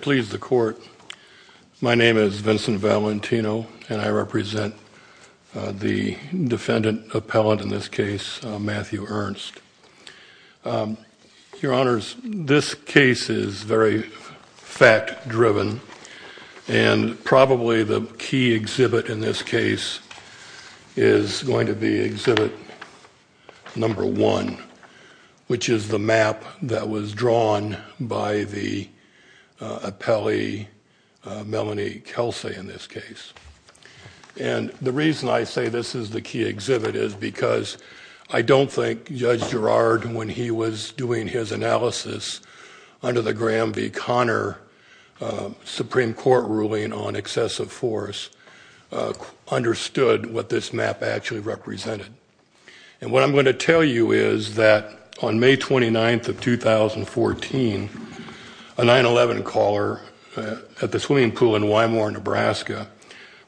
Please the court. My name is Vincent Valentino, and I represent the defendant appellant in this case, Matthew Ernst. Your Honors, this case is very fact-driven, and probably the key exhibit in this case is going to be exhibit number one, which is the map that was drawn by the appellee, Melanie Kelsay, in this case. And the reason I say this is the key exhibit is because I don't think Judge Ernst's analysis under the Graham v. Conner Supreme Court ruling on excessive force understood what this map actually represented. And what I'm going to tell you is that on May 29th of 2014, a 9-11 caller at the swimming pool in Wymore, Nebraska,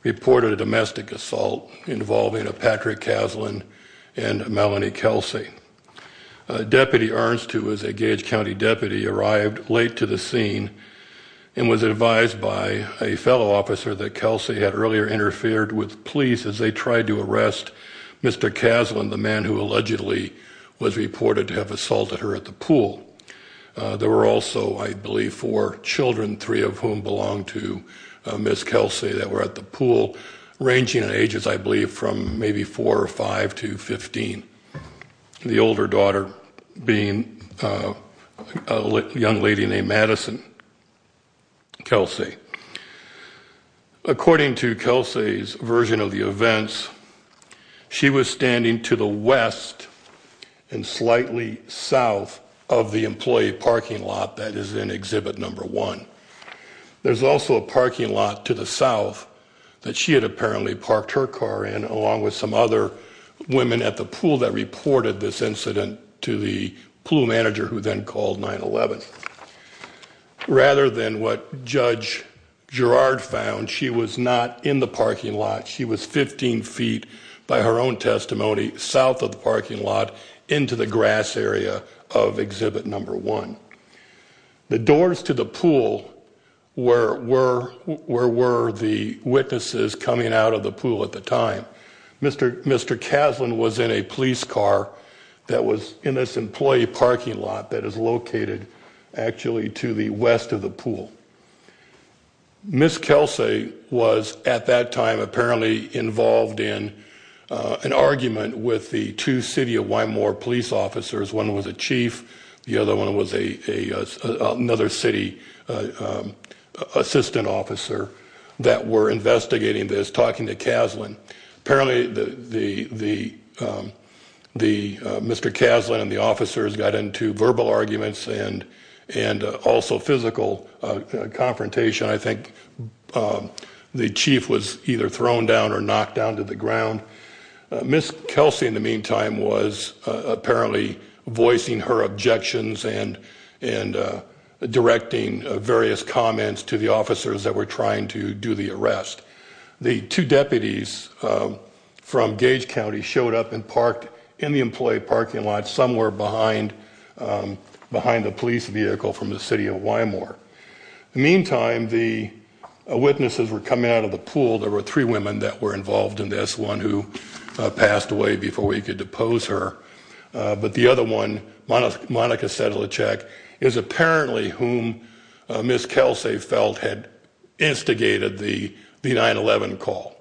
reported a domestic assault involving a Patrick Caslin and a Gage County deputy arrived late to the scene and was advised by a fellow officer that Kelsay had earlier interfered with police as they tried to arrest Mr. Caslin, the man who allegedly was reported to have assaulted her at the pool. There were also, I believe, four children, three of whom belong to Ms. Kelsay, that were at the pool, ranging in ages, I believe, from maybe four or five to 15, the older daughter being a young lady named Madison Kelsay. According to Kelsay's version of the events, she was standing to the west and slightly south of the employee parking lot that is in exhibit number one. There's also a parking lot to the south that she had apparently parked her car in, along with some other women at the pool that reported this incident to the pool manager, who then called 9-11. Rather than what Judge Girard found, she was not in the parking lot. She was 15 feet, by her own testimony, south of the parking lot into the grass area of exhibit number one. The doors to the pool were the witnesses coming out of the pool at the time. Mr. Caslin was in a police car that was in this employee parking lot that is located, actually, to the west of the pool. Ms. Kelsay was, at that time, apparently involved in an argument with the two city of Wymore police officers. One was a chief, the other city assistant officer, that were investigating this, talking to Caslin. Apparently, Mr. Caslin and the officers got into verbal arguments and also physical confrontation. I think the chief was either thrown down or knocked down to the ground. Ms. Kelsay, in the meantime, was apparently voicing her directing various comments to the officers that were trying to do the arrest. The two deputies from Gage County showed up and parked in the employee parking lot somewhere behind the police vehicle from the city of Wymore. In the meantime, the witnesses were coming out of the pool. There were three women that were involved in this, one who passed away before we could depose her. The other one, Monica Sedlicek, is apparently whom Ms. Kelsay felt had instigated the 9-11 call.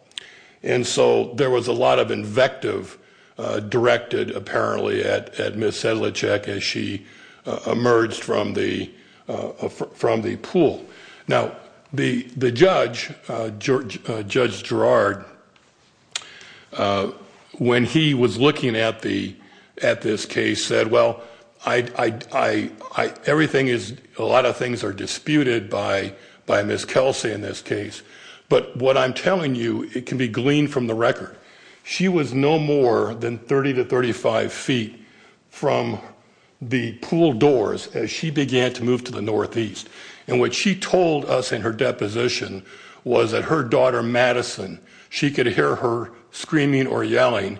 There was a lot of invective directed apparently at Ms. Sedlicek as she emerged from the pool. Now, the judge, Judge Gerard, when he was looking at this case, said, well, a lot of things are disputed by Ms. Kelsay in this case, but what I'm telling you, it can be gleaned from the record. She was no more than 30 to 35 feet from the pool doors as she began to move to the pool. What she told us in her deposition was that her daughter, Madison, she could hear her screaming or yelling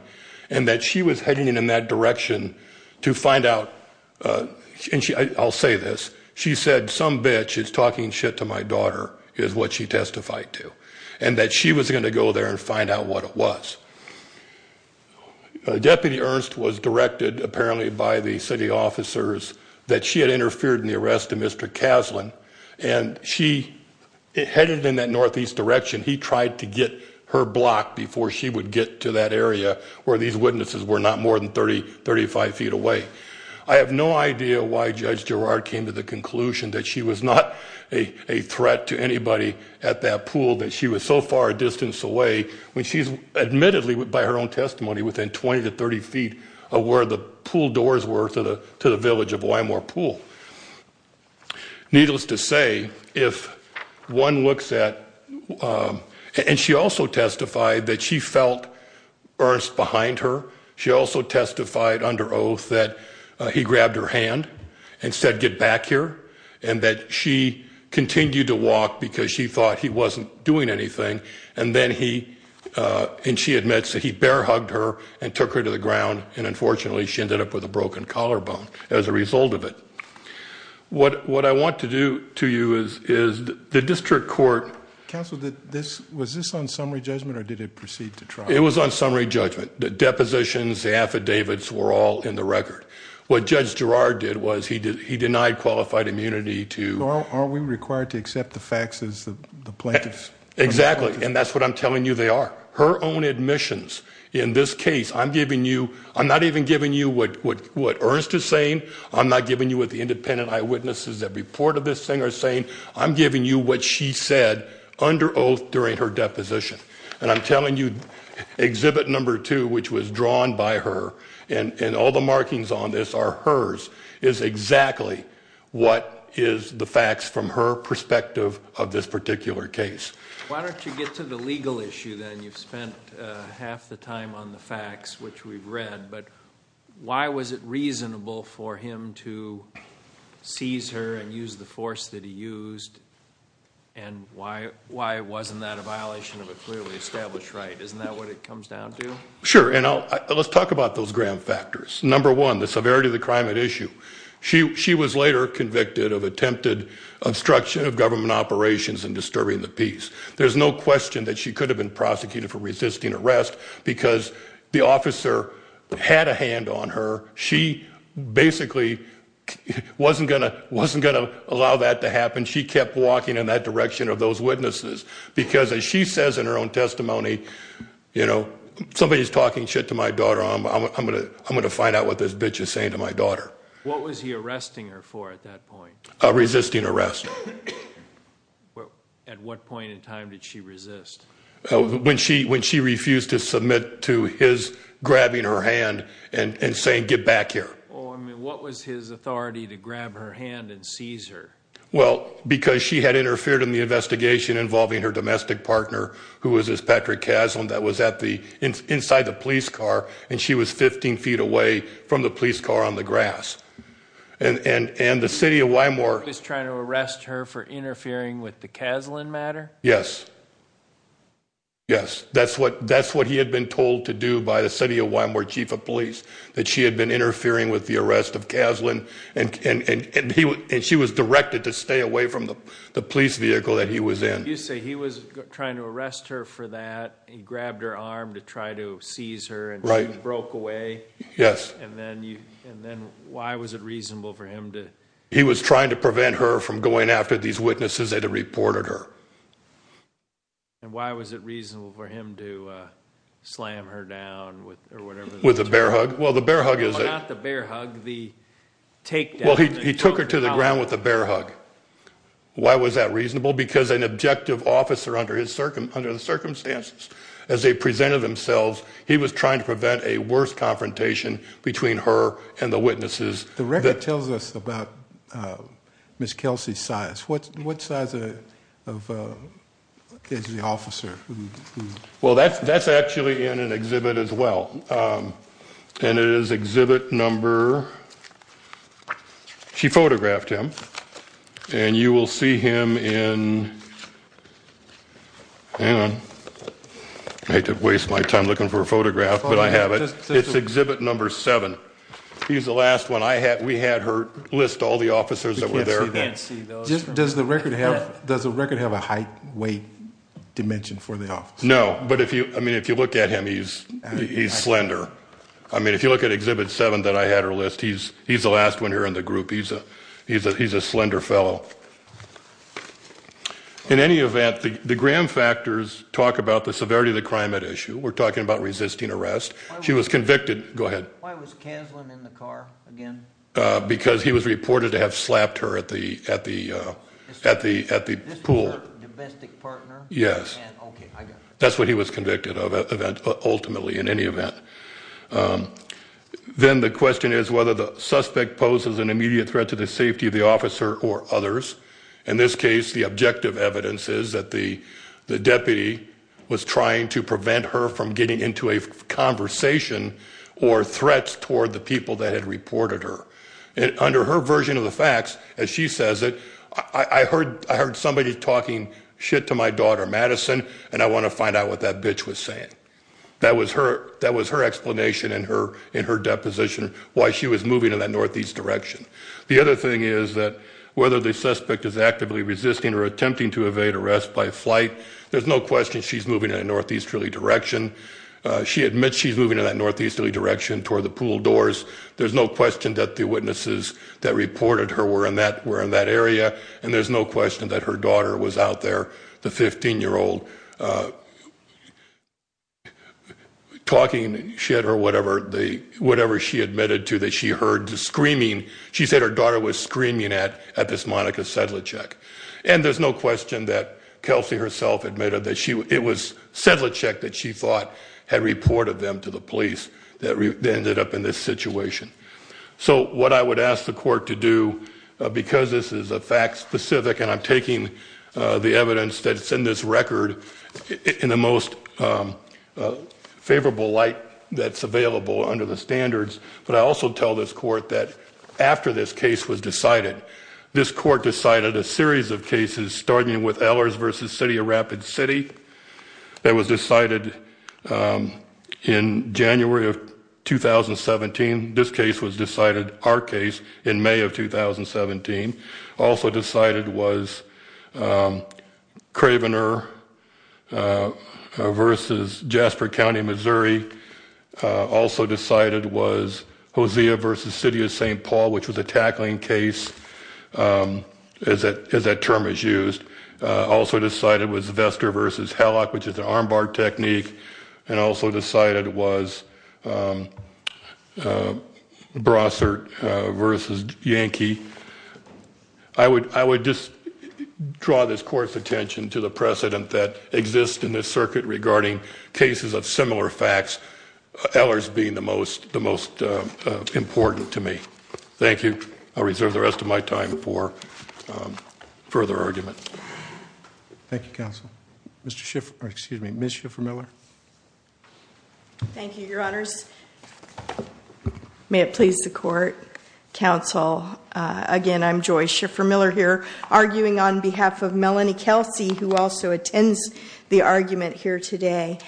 and that she was heading in that direction to find out, and I'll say this, she said some bitch is talking shit to my daughter, is what she testified to, and that she was going to go there and find out what it was. Deputy Ernst was directed apparently by the city officers that she had interfered in the arrest of Mr. Caslen, and she headed in that northeast direction. He tried to get her blocked before she would get to that area where these witnesses were not more than 30, 35 feet away. I have no idea why Judge Gerard came to the conclusion that she was not a threat to anybody at that pool, that she was so far a distance away when she's admittedly, by her own testimony, within 20 to 30 feet of where the pool doors were to the village of Wymore Pool. Needless to say, if one looks at, and she also testified that she felt Ernst behind her. She also testified under oath that he grabbed her hand and said get back here, and that she continued to walk because she thought he wasn't doing anything, and then he, and she admits that he bear-hugged her and took her to the ground, and unfortunately she ended up with a broken collarbone. As a result of it, what, what I want to do to you is, is the district court. Counsel, this, was this on summary judgment or did it proceed to trial? It was on summary judgment. The depositions, the affidavits were all in the record. What Judge Gerard did was, he did, he denied qualified immunity to. Are we required to accept the facts as the plaintiffs? Exactly, and that's what I'm telling you they are. Her own admissions in this case, I'm giving you, I'm not even giving you what, what, what Ernst is saying. I'm not giving you what the independent eyewitnesses that reported this thing are saying. I'm giving you what she said under oath during her deposition, and I'm telling you exhibit number two, which was drawn by her, and, and all the markings on this are hers, is exactly what is the facts from her perspective of this particular case. Why don't you get to the legal issue then? You've spent half the time on the facts, which we've read, but why was it reasonable for him to seize her and use the force that he used, and why, why wasn't that a violation of a clearly established right? Isn't that what it comes down to? Sure, and I'll, let's talk about those ground factors. Number one, the severity of the crime at issue. She, she was later convicted of attempted obstruction of government operations and disturbing the peace. There's no question that she could have been prosecuted for resisting arrest because the officer had a hand on her. She basically wasn't gonna, wasn't gonna allow that to happen. She kept walking in that direction of those witnesses because, as she says in her own testimony, you know, somebody's talking shit to my daughter. I'm gonna, I'm gonna find out what this bitch is saying to my daughter. What was he arresting her for at that point? A resisting arrest. At what point in time did she resist? When she, when she refused to submit to his grabbing her hand and saying, get back here. What was his authority to grab her hand and seize her? Well, because she had interfered in the investigation involving her domestic partner, who was this Patrick Caslin that was at the, inside the police car, and she was 15 feet away from the police car on the grass. And, and, and the city of Wymore... Was trying to arrest her for interfering with the Caslin matter? Yes. Yes. That's what, that's what he had been told to do by the city of Wymore chief of police. That she had been interfering with the arrest of Caslin and, and, and he, and she was directed to stay away from the, the police vehicle that he was in. You say he was trying to arrest her for that. He grabbed her arm to try to seize her and she broke away. Yes. And then you, and then why was it reasonable for him to... He was trying to prevent her from going after these witnesses that had reported her. And why was it reasonable for him to slam her down with, or whatever... With a bear hug? Well, the bear hug is... Well, not the bear hug, the take down... Well, he, he took her to the ground with the bear hug. Why was that reasonable? Because an objective officer under his circum, under the circumstances, as they presented themselves, he was trying to prevent a worse confrontation between her and the witnesses. The record tells us about Miss Kelsey's size. What, what size of, of is the officer? Well, that's, that's actually in an exhibit as well. And it is exhibit number... She photographed him. And you will see him in... Hang on. I hate to waste my time looking for a photograph, but I have it. It's exhibit number seven. He's the last one. I had, we had her list all the officers that were there. We can't see those. Does the record have, does the record have a height, weight, dimension for the officer? No. But if you, I mean, if you look at him, he's, he's slender. I mean, if you look at exhibit seven that I had her list, he's, he's the last one here in the group. He's a, he's a, he's a slender fellow. In any event, the, the Graham factors talk about the severity of the crime at issue. We're talking about resisting arrest. She was convicted... Go ahead. Why was Kaslan in the car again? Because he was reported to have slapped her at the, at the, at the, at the pool. Is this her domestic partner? Yes. Okay. I got it. That's what he was convicted of, event, ultimately in any event. Then the question is whether the suspect poses an immediate threat to the safety of the officer or others. In this case, the objective evidence is that the, the or threats toward the people that had reported her. And under her version of the facts, as she says it, I heard, I heard somebody talking shit to my daughter Madison, and I want to find out what that bitch was saying. That was her, that was her explanation in her, in her deposition, why she was moving in that Northeast direction. The other thing is that whether the suspect is actively resisting or attempting to evade arrest by flight, there's no question she's moving in a Northeast really direction. She admits she's moving in that easterly direction toward the pool doors. There's no question that the witnesses that reported her were in that, were in that area. And there's no question that her daughter was out there, the 15 year old, uh, talking shit or whatever they, whatever she admitted to that she heard screaming. She said her daughter was screaming at, at this Monica Sedlicek. And there's no question that Kelsey herself admitted that she, it was Sedlicek that she thought had reported them to the police that ended up in this situation. So what I would ask the court to do, because this is a fact specific and I'm taking the evidence that's in this record in the most, um, uh, favorable light that's available under the standards. But I also tell this court that after this case was decided, this court decided a series of cases starting with Ellers versus City of Rapid City. That was decided, um, in January of 2017. This case was decided, our case in May of 2017 also decided was, um, Cravener, uh, versus Jasper County, Missouri. Uh, also decided was Hosea versus City of ST Paul, which was a tackling case. Um, is that, is that term is used. Also decided was Vestor versus Hallock, which is an armbar technique and also decided was, um, uh, Brossard versus Yankee. I would, I would just draw this court's attention to the precedent that exists in this circuit regarding cases of similar facts. Ellers being the most, the most important to me. Thank you. I'll reserve the rest of my time for further argument. Thank you counsel. Mr Schiff, excuse me, Ms Schiffer-Miller. Thank you, your honors. May it please the court, counsel. Again, I'm Joy Schiffer-Miller here arguing on behalf of Melanie Kelsey, who also attends the argument here today.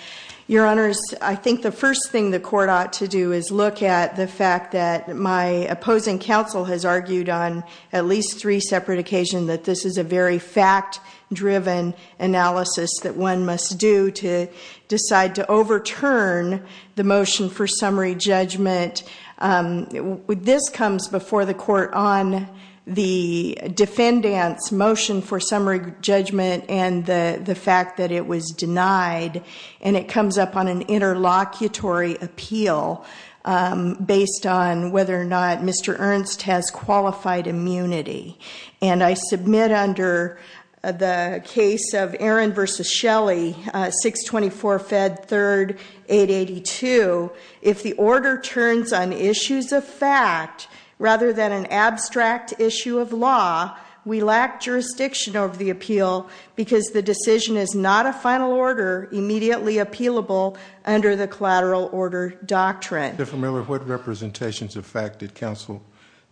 Your honors, I think the first thing the court ought to do is look at the fact that my opposing counsel has argued on at least three separate occasion that this is a very fact-driven analysis that one must do to decide to overturn the motion for summary judgment. This comes before the court on the defendant's motion for summary judgment and the the fact that it was denied and it comes up on an interlocutory appeal based on whether or not Mr. Ernst has qualified immunity. And I submit under the case of Aaron versus Shelly, 624 Fed 3rd 882, if the order turns on issues of fact rather than an abstract issue of law, we lack jurisdiction over the appeal because the decision is not a final order immediately appealable under the collateral order doctrine. Schiffer-Miller, what representations of fact did counsel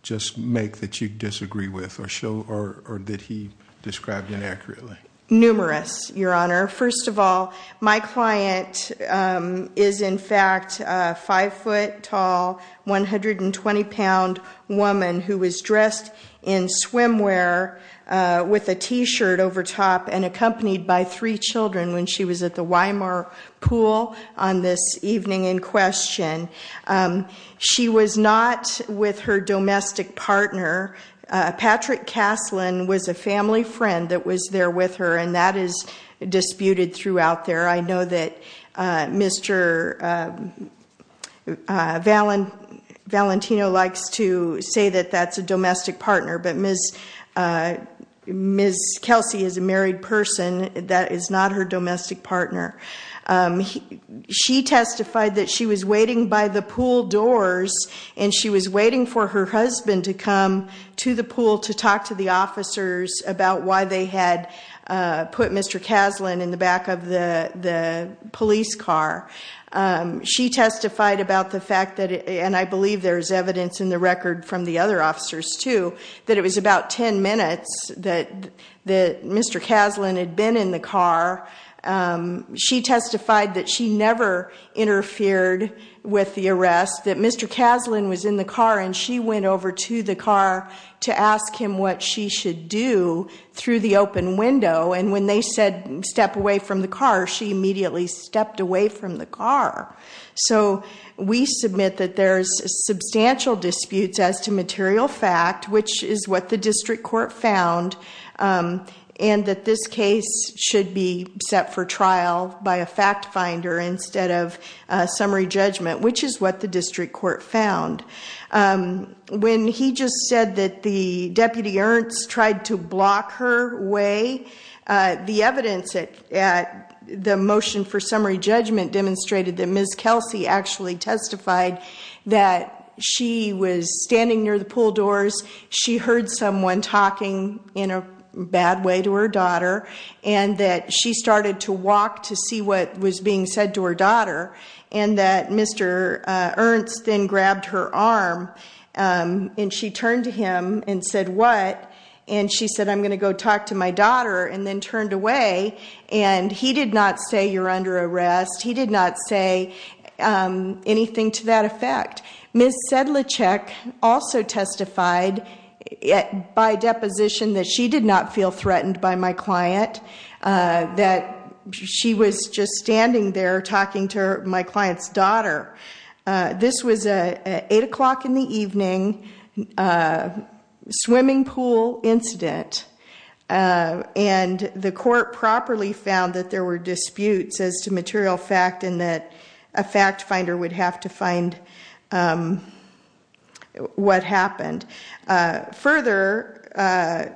just make that you disagree with or show or that he described inaccurately? Numerous, your honor. First of all, my client is in fact five foot tall, 120 pound woman who was dressed in swimwear with a t-shirt over top and accompanied by three children when she was at the Weimar pool on this evening in question. She was not with her domestic partner. Patrick Caslin was a family friend that was there with her and that is disputed throughout there. I know that Mr. Valentino likes to say that that's a Ms. Kelsey is a married person, that is not her domestic partner. She testified that she was waiting by the pool doors and she was waiting for her husband to come to the pool to talk to the officers about why they had put Mr. Caslin in the back of the the police car. She testified about the fact that, and I believe there is evidence in the record from the other officers too, that it was about 10 minutes that Mr. Caslin had been in the car. She testified that she never interfered with the arrest, that Mr. Caslin was in the car and she went over to the car to ask him what she should do through the open window and when they said step away from the car, she immediately stepped away from the car. So we submit that there's substantial disputes as to material fact, which is what the district court found, and that this case should be set for trial by a fact-finder instead of summary judgment, which is what the district court found. When he just said that the Deputy Ernst tried to block her way, the evidence at the motion for summary judgment demonstrated that Ms. Kelsey actually heard someone talking in a bad way to her daughter and that she started to walk to see what was being said to her daughter and that Mr. Ernst then grabbed her arm and she turned to him and said what and she said I'm going to go talk to my daughter and then turned away and he did not say you're under arrest, he by deposition that she did not feel threatened by my client, that she was just standing there talking to my client's daughter. This was a eight o'clock in the evening swimming pool incident and the court properly found that there were disputes as to material fact and that a fact-finder would have to find what happened. Further,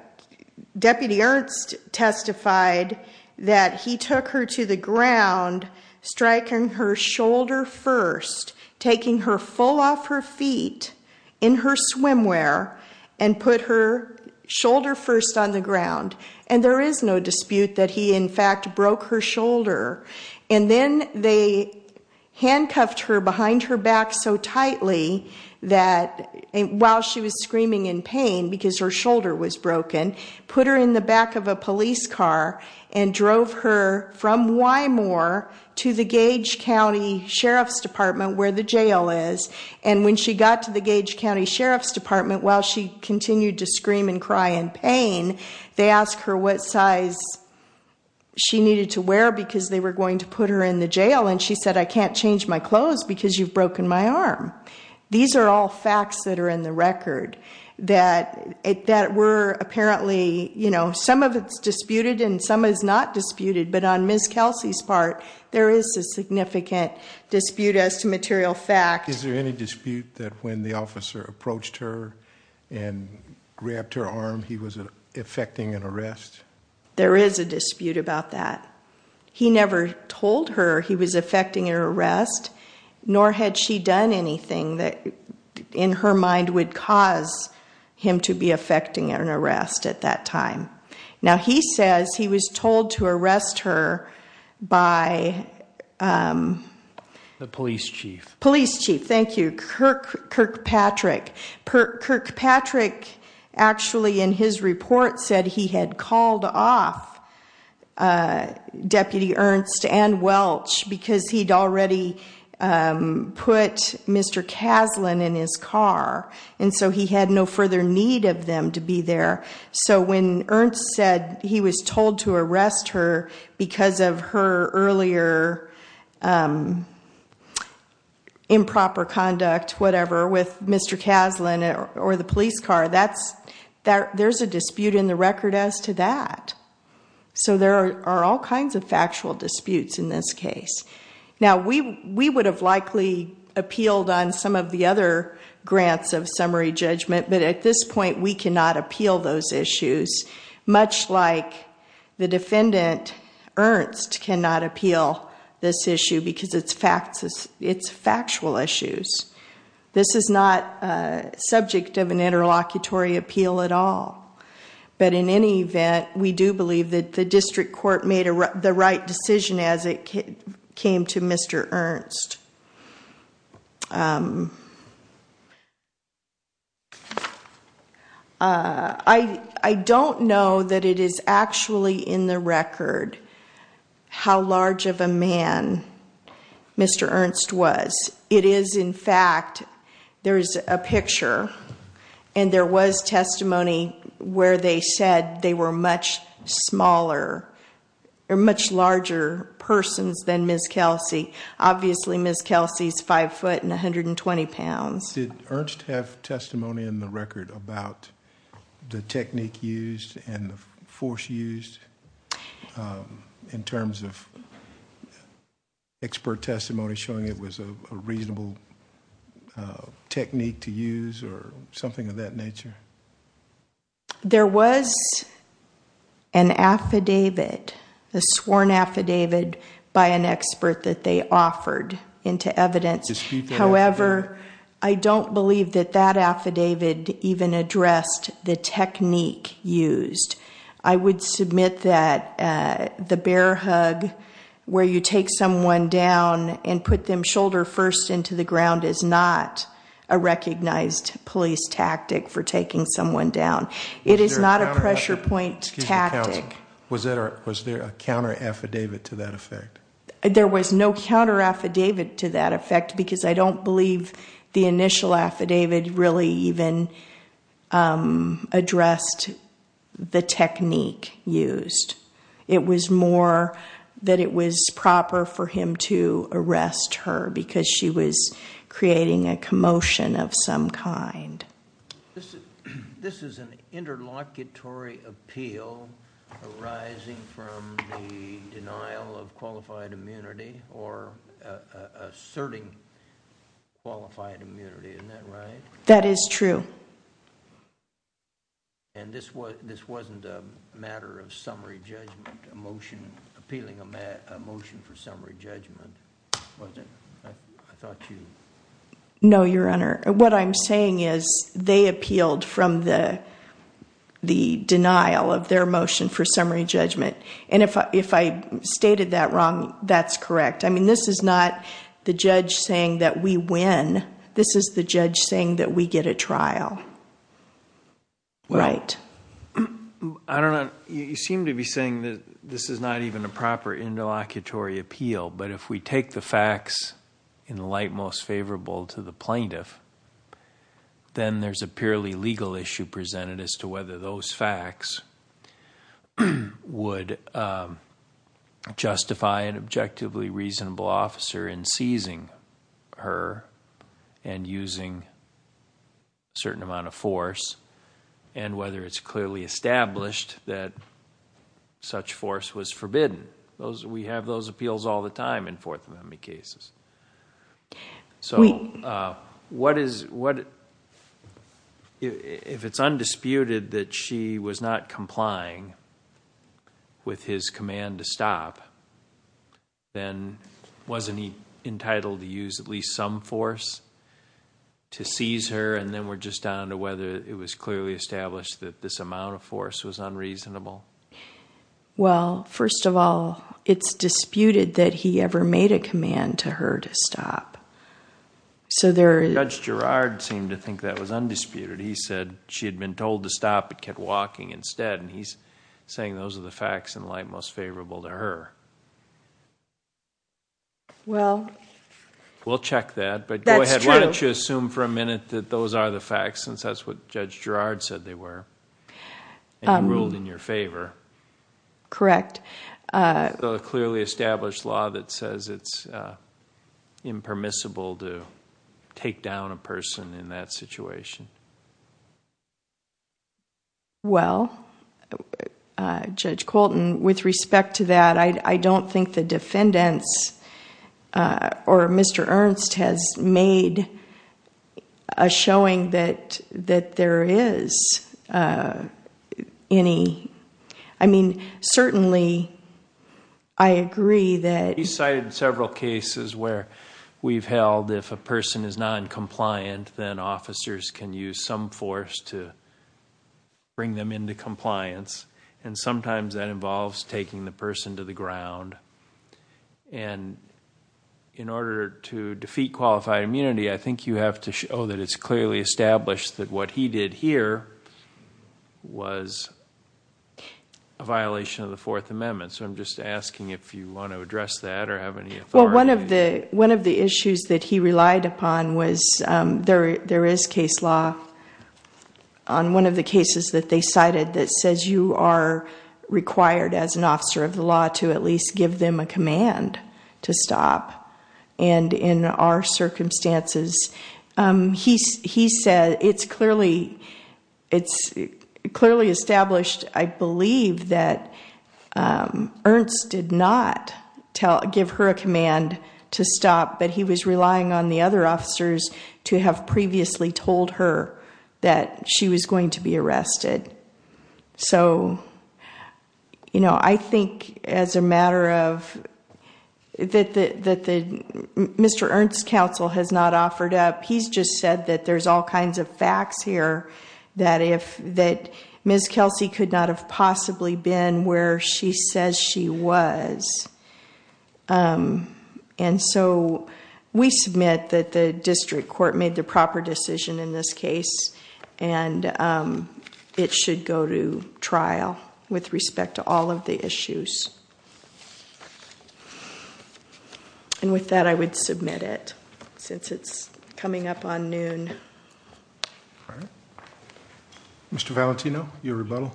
Deputy Ernst testified that he took her to the ground striking her shoulder first, taking her full off her feet in her swimwear and put her shoulder first on the ground and there is no dispute that he in fact broke her shoulder and then they handcuffed her behind her back so tightly that while she was screaming in pain because her shoulder was broken, put her in the back of a police car and drove her from Wymore to the Gage County Sheriff's Department where the jail is and when she got to the Gage County Sheriff's Department while she continued to scream and cry in pain, they asked her what size she needed to wear because they were going to put her in the jail and she said I can't change my clothes because you've broken my arm. These are all facts that are in the record that were apparently, you know, some of it's disputed and some is not disputed but on Ms. Kelsey's part there is a significant dispute as to material fact. Is there any dispute that when the there is a dispute about that. He never told her he was affecting her arrest nor had she done anything that in her mind would cause him to be affecting an arrest at that time. Now he says he was told to arrest her by the police chief. Police chief, thank you, Kirkpatrick. Kirkpatrick actually in his report said he had called off Deputy Ernst and Welch because he'd already put Mr. Kaslan in his car and so he had no further need of them to be there. So when Ernst said he was told to arrest her because of her earlier improper conduct, whatever, with So there are all kinds of factual disputes in this case. Now we we would have likely appealed on some of the other grants of summary judgment but at this point we cannot appeal those issues much like the defendant Ernst cannot appeal this issue because it's factual issues. This is not subject of an interlocutory appeal at all. But in any event, we do believe that the district court made the right decision as it came to Mr. Ernst. I don't know that it is actually in the record how large of a man Mr. Ernst was. It is in fact, there is a picture and there was testimony where they said they were much smaller or much larger persons than Ms. Kelsey. Obviously Ms. Kelsey's five foot and 120 pounds. Did Ernst have testimony in the record about the technique used and the force used in terms of expert testimony showing it was a reasonable technique to use or something of that nature? There was an affidavit, a sworn affidavit, by an expert that they offered into evidence. However, I don't believe that that affidavit even addressed the technique used. I would submit that the bear hug where you take someone down and put them shoulder first into the ground is not a recognized police tactic for taking someone down. It is not a pressure point tactic. Was there a counter affidavit to that effect? There was no counter affidavit to that effect because I don't believe the initial affidavit really even addressed the technique used. It was more that it was proper for him to arrest her because she was creating a commotion of some kind. This is an interlocutory appeal arising from the denial of qualified immunity or asserting qualified immunity, isn't that right? That is true. This wasn't a matter of summary judgment, appealing a motion for summary judgment, was it? I thought you... No, Your Honor. What I'm saying is they appealed from the denial of their motion for summary judgment. If I stated that wrong, that's correct. This is not the judge saying that we win. This is the judge saying that we get a trial, right? I don't know. You seem to be saying that this is not even a proper interlocutory appeal, but if we take the facts in the light most favorable to the plaintiff, then there's a purely legal issue presented as to whether those facts would justify an attorney arresting her and using a certain amount of force and whether it's clearly established that such force was forbidden. We have those appeals all the time in Fourth Amendment cases. If it's undisputed that she was not complying with his order, is she entitled to use at least some force to seize her and then we're just down to whether it was clearly established that this amount of force was unreasonable? First of all, it's disputed that he ever made a command to her to stop. Judge Girard seemed to think that was undisputed. He said she had been told to stop but kept walking instead. He's saying those are the facts in light most favorable to her. Well... We'll check that. That's true. Go ahead. Why don't you assume for a minute that those are the facts since that's what Judge Girard said they were and he ruled in your favor. Correct. It's a clearly established law that says it's impermissible to take down a person in that situation. Well, Judge Colton, with respect to that, I don't think the defendants or Mr. Ernst has made a showing that there is any... I mean, certainly I agree that... He cited several cases where we've held if a person is noncompliant, then officers can use some force to bring them into compliance. Sometimes that involves taking the person to the ground. In order to defeat qualified immunity, I think you have to show that it's clearly established that what he did here was a violation of the Fourth Amendment. I'm just asking if you want to address that or have any authority. Well, one of the issues that he relied upon was there is case law on one of the cases that they cited that says you are required as an officer of the law to at least give them a command to stop. In our circumstances, he said it's clearly established, I believe, that Ernst did not give her a command to stop, but he was relying on the other officers to have previously told her that she was going to be arrested. I think as a matter of... Mr. Ernst's counsel has not offered up. He's just said that there's all kinds of facts here that Ms. Kelsey could not have possibly been where she says she was. We submit that the District Court made the proper decision in this case and it should go to trial with respect to all of the issues. With that, I would submit it since it's coming up on noon. Mr. Valentino, your rebuttal.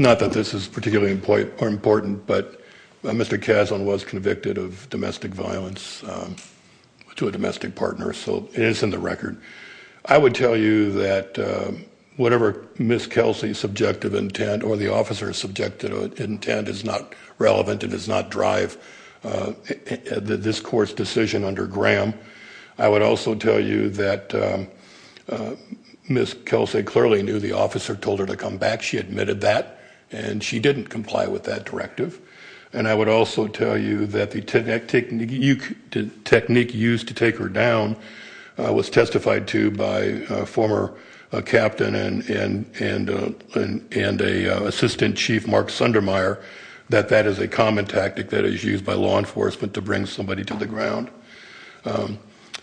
Not that this is particularly important, but Mr. Kaslan was convicted of domestic violence to a domestic partner, so it is in the record. I would tell you that whatever Ms. Kelsey's subjective intent or the officer's subjective intent is not relevant and does not drive up this court's decision under Graham. I would also tell you that Ms. Kelsey clearly knew the officer told her to come back. She admitted that and she didn't comply with that directive. I would also tell you that the technique used to take her down was testified to by a former captain and an assistant chief, Mark Sundermeyer, that that is a common tactic that is used by law enforcement to bring somebody to the ground.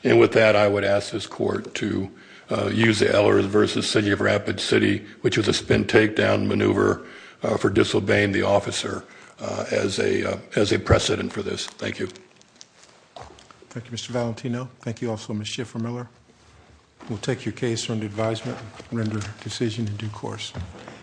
With that, I would ask this court to use the Ellers v. City of Rapid City, which was a spin takedown maneuver for disobeying the officer as a precedent for this. Thank you. Thank you, Mr. Valentino. Thank you also, Ms. Schiffer-Miller. We'll take your case under advisement and render a decision in due course.